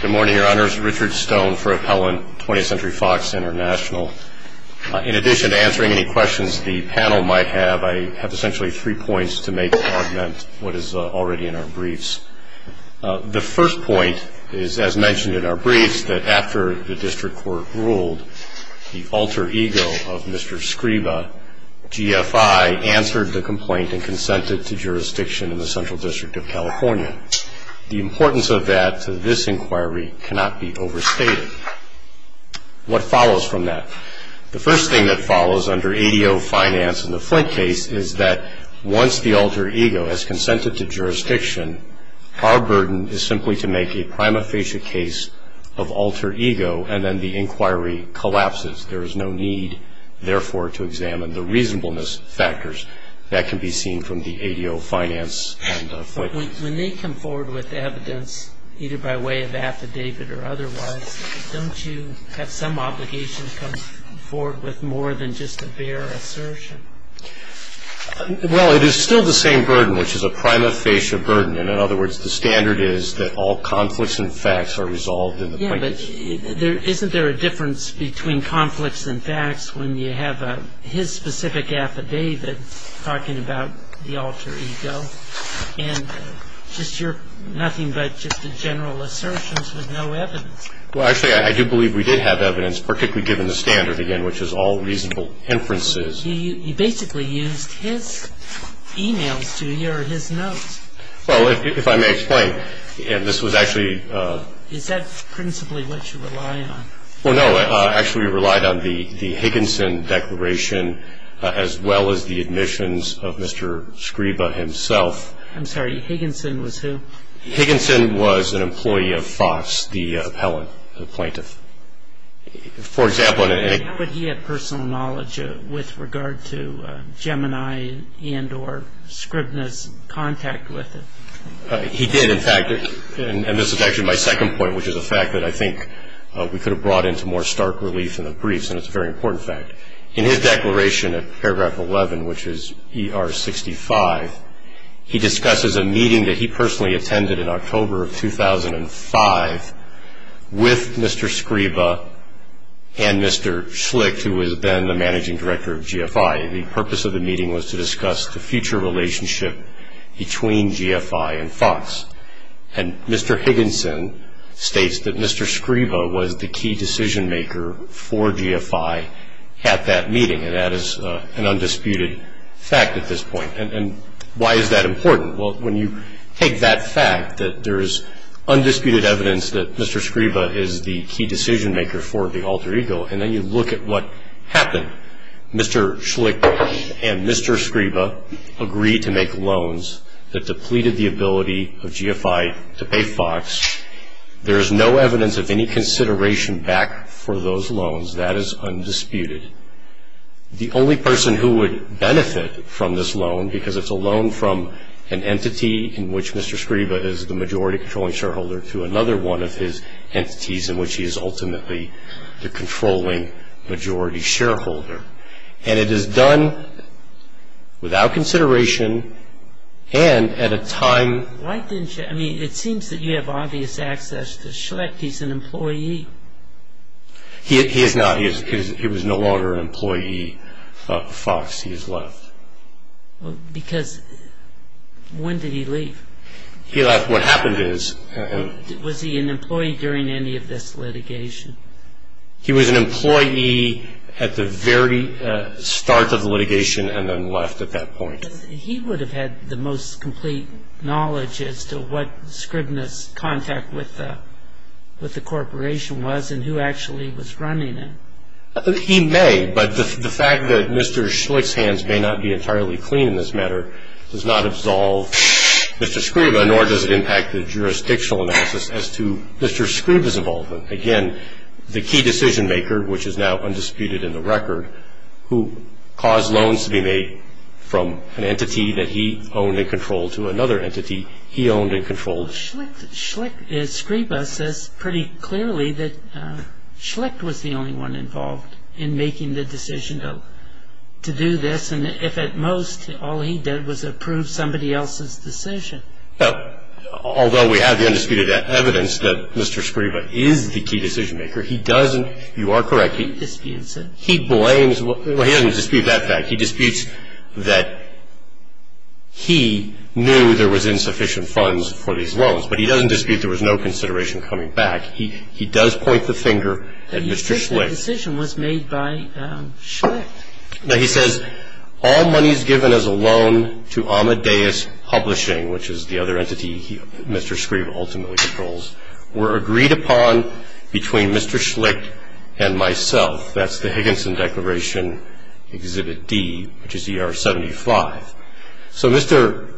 Good morning, your honors. Richard Stone for Appellant Twentieth Century Fox International. In addition to answering any questions the panel might have, I have essentially three points to make to augment what is already in our briefs. The first point is, as mentioned in our briefs, that after the district court ruled the alter ego of Mr. Scriba, GFI answered the complaint and consented to jurisdiction in the Central District of California. The importance of that to this inquiry cannot be overstated. What follows from that? The first thing that follows under ADO Finance and the Flint case is that once the alter ego has consented to jurisdiction, our burden is simply to make a prima facie case of alter ego and then the inquiry collapses. There is no need, therefore, to examine the reasonableness factors that can be seen from the ADO Finance and Flint case. When they come forward with evidence, either by way of affidavit or otherwise, don't you have some obligation to come forward with more than just a bare assertion? Well, it is still the same burden, which is a prima facie burden. In other words, the standard is that all conflicts and facts are resolved in the plaintiff's court. Isn't there a difference between conflicts and facts when you have his specific affidavit talking about the alter ego? And just your nothing but just a general assertion with no evidence. Well, actually, I do believe we did have evidence, particularly given the standard, again, which is all reasonable inferences. You basically used his e-mails to hear his notes. Well, if I may explain, this was actually... Is that principally what you rely on? Well, no. Actually, we relied on the Higginson declaration as well as the admissions of Mr. Scriba himself. I'm sorry. Higginson was who? Higginson was an employee of Fox, the appellant, the plaintiff. For example... How would he have personal knowledge with regard to Gemini and or Scribna's contact with it? He did, in fact. And this is actually my second point, which is the fact that I think we could have brought into more stark relief in the briefs, and it's a very important fact. In his declaration at paragraph 11, which is ER 65, he discusses a meeting that he personally attended in October of 2005 with Mr. Scriba and Mr. Schlicht, who was then the managing director of GFI. The purpose of the meeting was to discuss the future relationship between GFI and Fox. And Mr. Higginson states that Mr. Scriba was the key decision-maker for GFI at that meeting, and that is an undisputed fact at this point. And why is that important? Well, when you take that fact, that there is undisputed evidence that Mr. Scriba is the key decision-maker for the alter ego, and then you look at what happened. Mr. Schlicht and Mr. Scriba agreed to make loans that depleted the ability of GFI to pay Fox. There is no evidence of any consideration back for those loans. That is undisputed. The only person who would benefit from this loan, because it's a loan from an entity in which Mr. Scriba is the majority controlling shareholder, to another one of his entities in which he is ultimately the controlling majority shareholder. And it is done without consideration and at a time... Why didn't you, I mean, it seems that you have obvious access to Schlicht. He's an employee. He is not. He was no longer an employee of Fox. He has left. Because when did he leave? He left. What happened is... Was he an employee during any of this litigation? He was an employee at the very start of the litigation and then left at that point. He would have had the most complete knowledge as to what Scriba's contact with the corporation was and who actually was running it. He may, but the fact that Mr. Schlicht's hands may not be entirely clean in this matter does not absolve Mr. Scriba, nor does it impact the jurisdictional analysis as to Mr. Scriba's involvement. Again, the key decision-maker, which is now undisputed in the record, who caused loans to be made from an entity that he owned and controlled to another entity he owned and controlled. Scriba says pretty clearly that Schlicht was the only one involved in making the decision to do this, and if at most all he did was approve somebody else's decision. Well, although we have the undisputed evidence that Mr. Scriba is the key decision-maker, he doesn't... You are correct. He disputes it. He blames... Well, he doesn't dispute that fact. He disputes that he knew there was insufficient funds for these loans, but he doesn't dispute there was no consideration coming back. He does point the finger at Mr. Schlicht. The decision was made by Schlicht. Now, he says all monies given as a loan to Amadeus Publishing, which is the other entity Mr. Scriba ultimately controls, were agreed upon between Mr. Schlicht and myself. That's the Higginson Declaration, Exhibit D, which is ER 75. So Mr.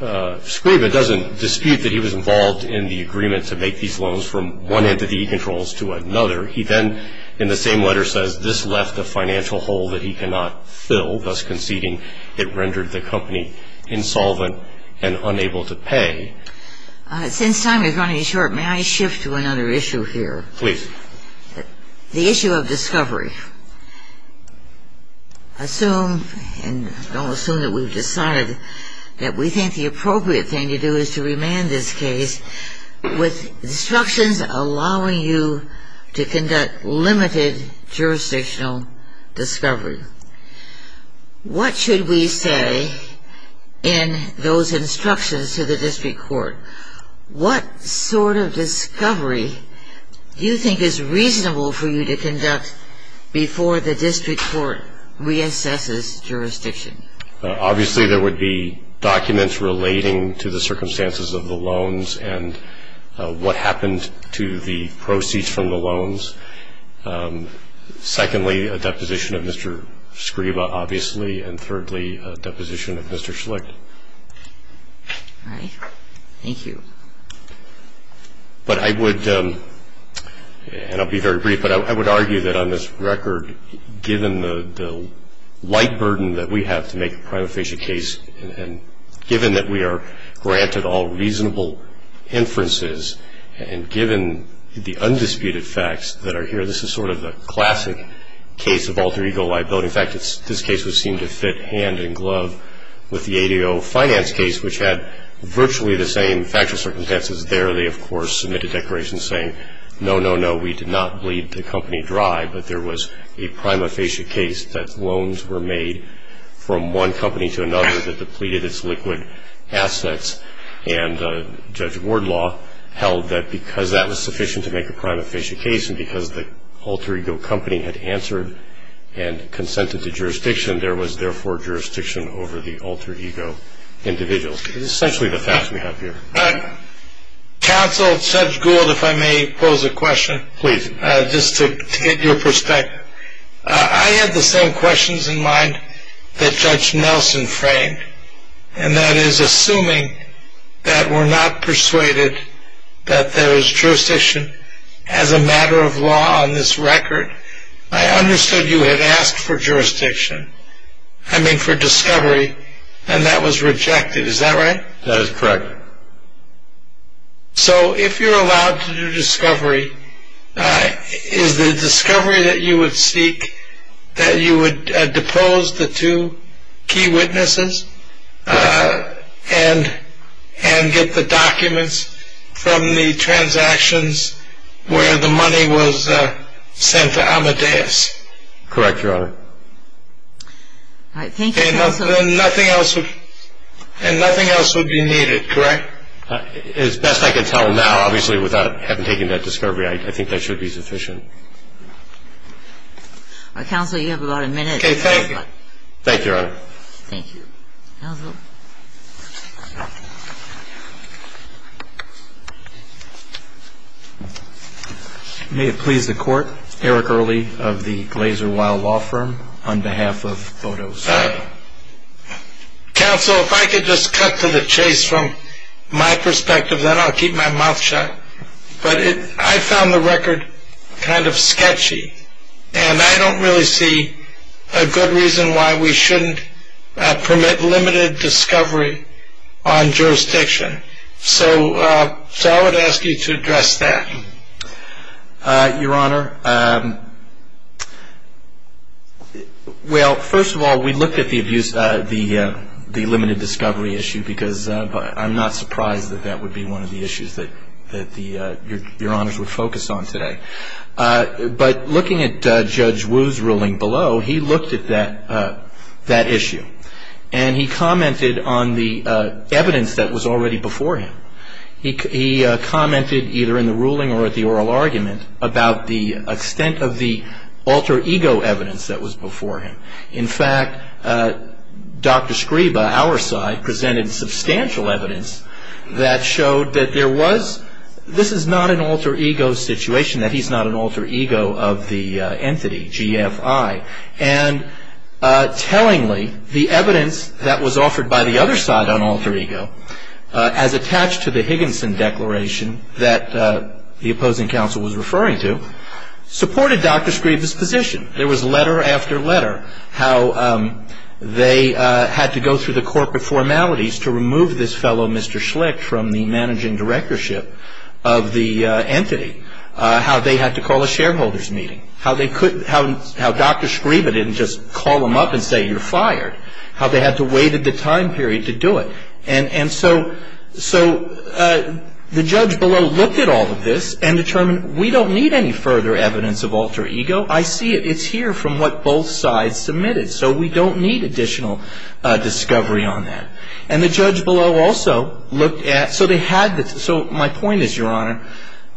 Scriba doesn't dispute that he was involved in the agreement to make these loans from one entity he controls to another. He then, in the same letter, says this left a financial hole that he cannot fill, thus conceding it rendered the company insolvent and unable to pay. Since time is running short, may I shift to another issue here? Please. The issue of discovery. Assume, and don't assume that we've decided, that we think the appropriate thing to do is to remand this case with instructions allowing you to conduct limited jurisdictional discovery. What should we say in those instructions to the district court? What sort of discovery do you think is reasonable for you to conduct before the district court reassesses jurisdiction? Obviously, there would be documents relating to the circumstances of the loans and what happened to the proceeds from the loans. Secondly, a deposition of Mr. Scriba, obviously, and thirdly, a deposition of Mr. Schlicht. All right. Thank you. But I would, and I'll be very brief, but I would argue that on this record, given the light burden that we have to make a prima facie case, and given that we are granted all reasonable inferences, and given the undisputed facts that are here, this is sort of a classic case of alter ego liability. In fact, this case would seem to fit hand in glove with the ADO finance case, which had virtually the same factual circumstances there. They, of course, submitted declarations saying, no, no, no, we did not bleed the company dry, but there was a prima facie case that loans were made from one company to another that depleted its liquid assets, and Judge Wardlaw held that because that was sufficient to make a prima facie case and because the alter ego company had answered and consented to jurisdiction, there was, therefore, jurisdiction over the alter ego individuals. It's essentially the facts we have here. Counsel, Judge Gould, if I may pose a question. Please. Just to get your perspective. I had the same questions in mind that Judge Nelson framed, and that is assuming that we're not persuaded that there is jurisdiction as a matter of law on this record. I understood you had asked for jurisdiction, I mean for discovery, and that was rejected. Is that right? That is correct. So if you're allowed to do discovery, is the discovery that you would seek that you would depose the two key witnesses and get the documents from the transactions where the money was sent to Amadeus? Correct, Your Honor. All right. Thank you, Counsel. And nothing else would be needed, correct? As best I can tell now, obviously, without having taken that discovery, I think that should be sufficient. Counsel, you have about a minute. Okay. Thank you. Thank you, Your Honor. Thank you. Counsel. Counsel. May it please the Court, Eric Early of the Glaser Weill Law Firm, on behalf of Photos. Counsel, if I could just cut to the chase from my perspective, then I'll keep my mouth shut. But I found the record kind of sketchy, and I don't really see a good reason why we shouldn't permit limited discovery on jurisdiction. So I would ask you to address that. Your Honor, well, first of all, we looked at the limited discovery issue because I'm not surprised that that would be one of the issues that Your Honors would focus on today. But looking at Judge Wu's ruling below, he looked at that issue, and he commented on the evidence that was already before him. He commented either in the ruling or at the oral argument about the extent of the alter ego evidence that was before him. In fact, Dr. Scriba, our side, presented substantial evidence that showed that there was this is not an alter ego situation, that he's not an alter ego of the entity, GFI. And tellingly, the evidence that was offered by the other side on alter ego, as attached to the Higginson Declaration that the opposing counsel was referring to, supported Dr. Scriba's position. There was letter after letter how they had to go through the corporate formalities to remove this fellow, Mr. Schlicht, from the managing directorship of the entity. How they had to call a shareholders meeting. How Dr. Scriba didn't just call him up and say, you're fired. How they had to wait at the time period to do it. And so the judge below looked at all of this and determined we don't need any further evidence of alter ego. I see it. It's here from what both sides submitted. So we don't need additional discovery on that. And the judge below also looked at, so my point is, Your Honor,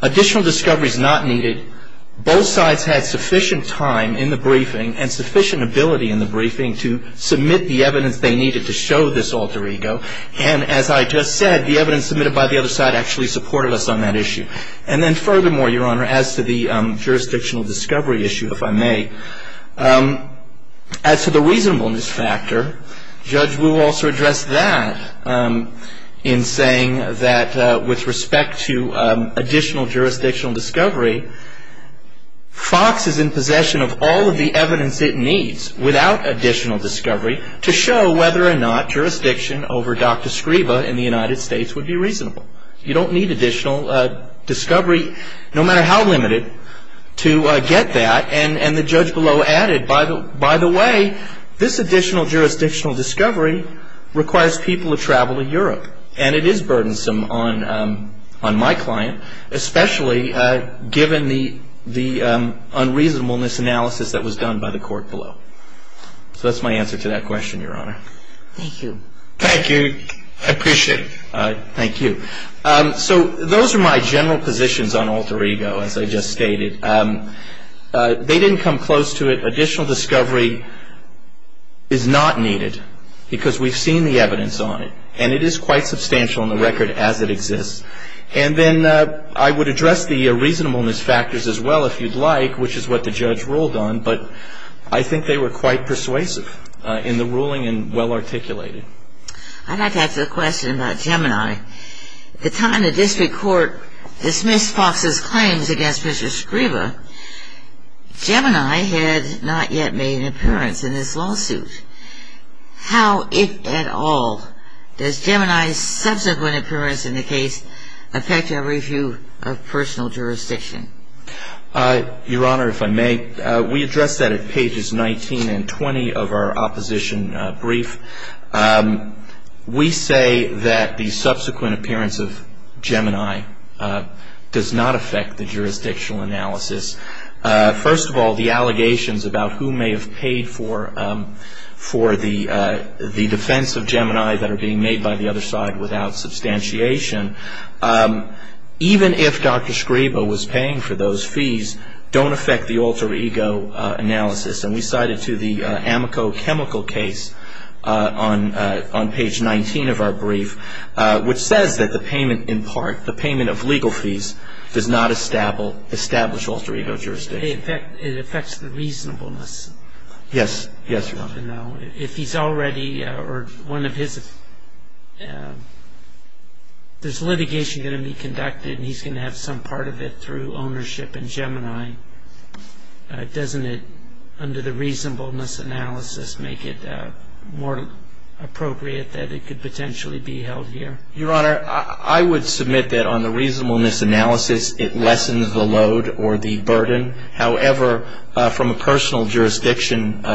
additional discovery is not needed. Both sides had sufficient time in the briefing and sufficient ability in the briefing to submit the evidence they needed to show this alter ego. And as I just said, the evidence submitted by the other side actually supported us on that issue. And then furthermore, Your Honor, as to the jurisdictional discovery issue, if I may, as to the reasonableness factor, Judge Wu also addressed that in saying that with respect to additional jurisdictional discovery, Fox is in possession of all of the evidence it needs without additional discovery to show whether or not jurisdiction over Dr. Scriba in the United States would be reasonable. You don't need additional discovery, no matter how limited, to get that. And the judge below added, by the way, this additional jurisdictional discovery requires people to travel to Europe. And it is burdensome on my client, especially given the unreasonableness analysis that was done by the court below. So that's my answer to that question, Your Honor. Thank you. Thank you. I appreciate it. Thank you. So those are my general positions on alter ego, as I just stated. They didn't come close to it. Additional discovery is not needed because we've seen the evidence on it. And it is quite substantial on the record as it exists. And then I would address the reasonableness factors as well, if you'd like, which is what the judge ruled on. But I think they were quite persuasive in the ruling and well articulated. I'd like to ask a question about Gemini. At the time the district court dismissed Fox's claims against Mr. Scriba, Gemini had not yet made an appearance in this lawsuit. How, if at all, does Gemini's subsequent appearance in the case affect your review of personal jurisdiction? Your Honor, if I may, we addressed that at pages 19 and 20 of our opposition brief. We say that the subsequent appearance of Gemini does not affect the jurisdictional analysis. First of all, the allegations about who may have paid for the defense of Gemini that are being made by the other side without substantiation, even if Dr. Scriba was paying for those fees, don't affect the alter ego analysis. And we cited to the Amico chemical case on page 19 of our brief, which says that the payment in part, the payment of legal fees, does not establish alter ego jurisdiction. It affects the reasonableness. Yes, yes, Your Honor. If he's already, or one of his, there's litigation going to be conducted and he's going to have some part of it through ownership in Gemini, doesn't it, under the reasonableness analysis, make it more appropriate that it could potentially be held here? Your Honor, I would submit that on the reasonableness analysis, it lessens the load or the burden. However, from a personal jurisdiction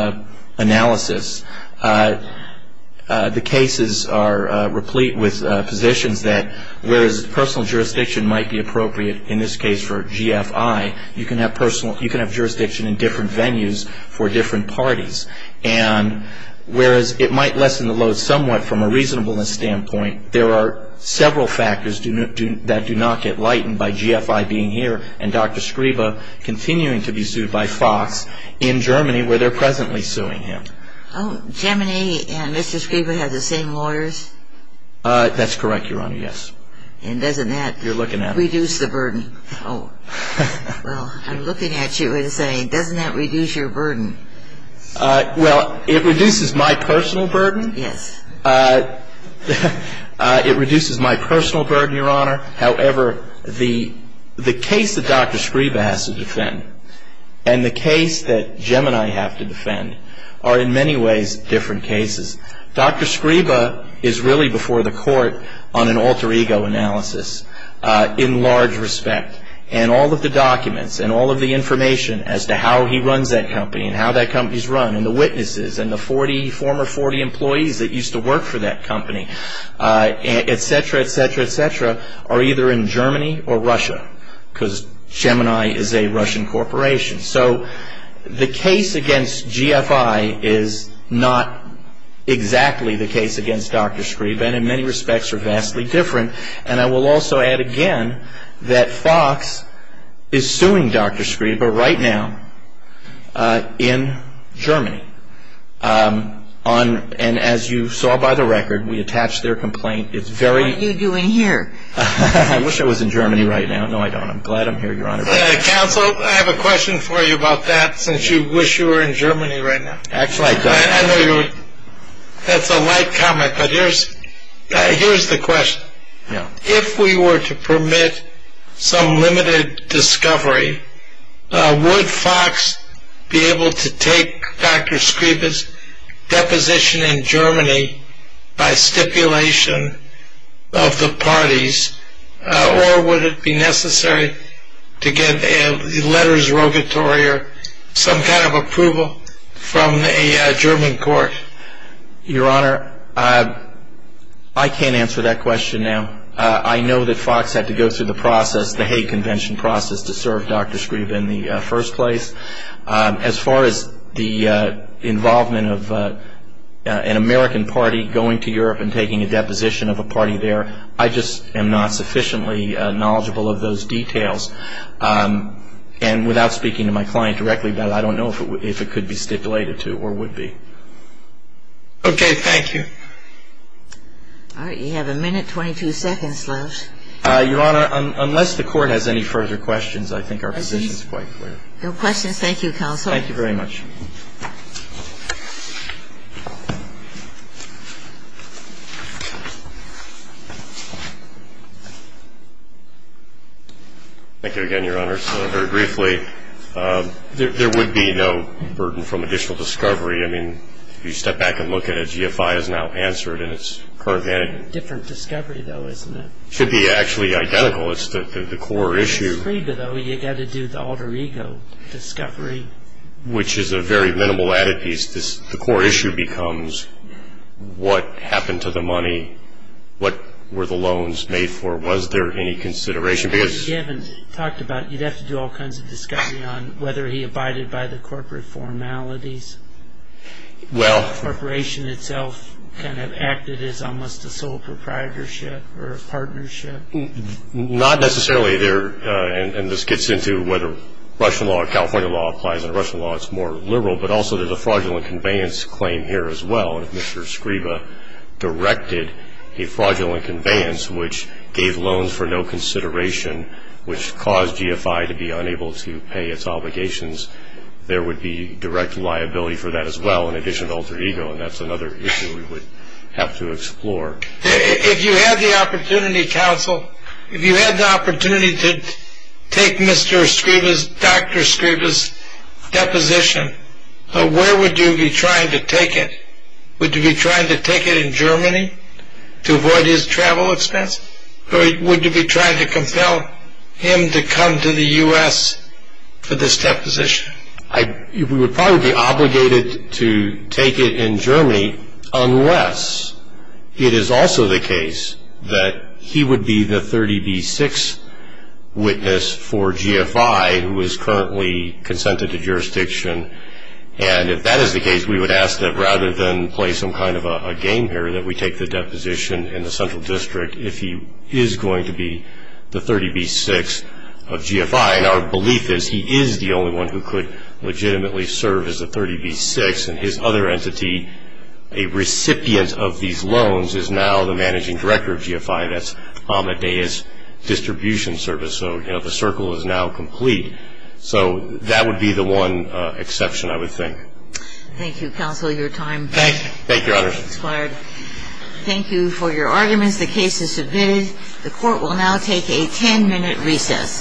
analysis, the cases are replete with positions that, whereas personal jurisdiction might be appropriate in this case for GFI, you can have jurisdiction in different venues for different parties. And whereas it might lessen the load somewhat from a reasonableness standpoint, there are several factors that do not get lightened by GFI being here and Dr. Scriba continuing to be sued by Fox in Germany where they're presently suing him. Oh, Gemini and Mr. Scriba have the same lawyers? That's correct, Your Honor, yes. And doesn't that reduce the burden? Oh. Well, I'm looking at you and saying, doesn't that reduce your burden? Well, it reduces my personal burden. Yes. It reduces my personal burden, Your Honor. However, the case that Dr. Scriba has to defend and the case that Gemini have to defend are in many ways different cases. Dr. Scriba is really before the court on an alter ego analysis in large respect. And all of the documents and all of the information as to how he runs that company and how that company is run and the witnesses and the 40, former 40 employees that used to work for that company, et cetera, et cetera, et cetera, are either in Germany or Russia because Gemini is a Russian corporation. So the case against GFI is not exactly the case against Dr. Scriba and in many respects are vastly different. And I will also add again that Fox is suing Dr. Scriba right now in Germany. And as you saw by the record, we attached their complaint. What are you doing here? I wish I was in Germany right now. No, I don't. I'm glad I'm here, Your Honor. Counsel, I have a question for you about that since you wish you were in Germany right now. Act like that. I know that's a light comment, but here's the question. If we were to permit some limited discovery, would Fox be able to take Dr. Scriba's deposition in Germany by stipulation of the parties or would it be necessary to get a letters rogatory or some kind of approval from a German court? Your Honor, I can't answer that question now. I know that Fox had to go through the process, the Hague Convention process, to serve Dr. Scriba in the first place. As far as the involvement of an American party going to Europe and taking a deposition of a party there, I just am not sufficiently knowledgeable of those details. And without speaking to my client directly about it, I don't know if it could be stipulated to or would be. Okay. Thank you. All right. You have a minute, 22 seconds left. Your Honor, unless the Court has any further questions, I think our position is quite clear. No questions. Thank you, Counsel. Thank you very much. Thank you. Thank you again, Your Honor. So very briefly, there would be no burden from additional discovery. I mean, if you step back and look at it, GFI has now answered in its current manner. It's a different discovery, though, isn't it? It should be actually identical. It's the core issue. With Scriba, though, you've got to do the alter ego discovery. Which is a very minimal added piece. The core issue becomes what happened to the money, what were the loans made for, was there any consideration? Because you haven't talked about it. You'd have to do all kinds of discovery on whether he abided by the corporate formalities. Well. The corporation itself kind of acted as almost a sole proprietorship or a partnership. Not necessarily. And this gets into whether Russian law or California law applies under Russian law. It's more liberal. But also there's a fraudulent conveyance claim here as well. And if Mr. Scriba directed a fraudulent conveyance which gave loans for no consideration, which caused GFI to be unable to pay its obligations, there would be direct liability for that as well, in addition to alter ego, and that's another issue we would have to explore. If you had the opportunity, counsel, if you had the opportunity to take Mr. Scriba's, Dr. Scriba's deposition, where would you be trying to take it? Would you be trying to take it in Germany to avoid his travel expense? Or would you be trying to compel him to come to the U.S. for this deposition? We would probably be obligated to take it in Germany unless it is also the case that he would be the 30B6 witness for GFI, who is currently consented to jurisdiction. And if that is the case, we would ask that rather than play some kind of a game here, that we take the deposition in the central district if he is going to be the 30B6 of GFI. And our belief is he is the only one who could legitimately serve as a 30B6. And his other entity, a recipient of these loans, is now the managing director of GFI. That's Amadeus Distribution Service. So, you know, the circle is now complete. So that would be the one exception, I would think. Thank you, counsel, your time has expired. Thank you, Your Honor. Thank you for your arguments. The case is submitted. The Court will now take a 10-minute recess.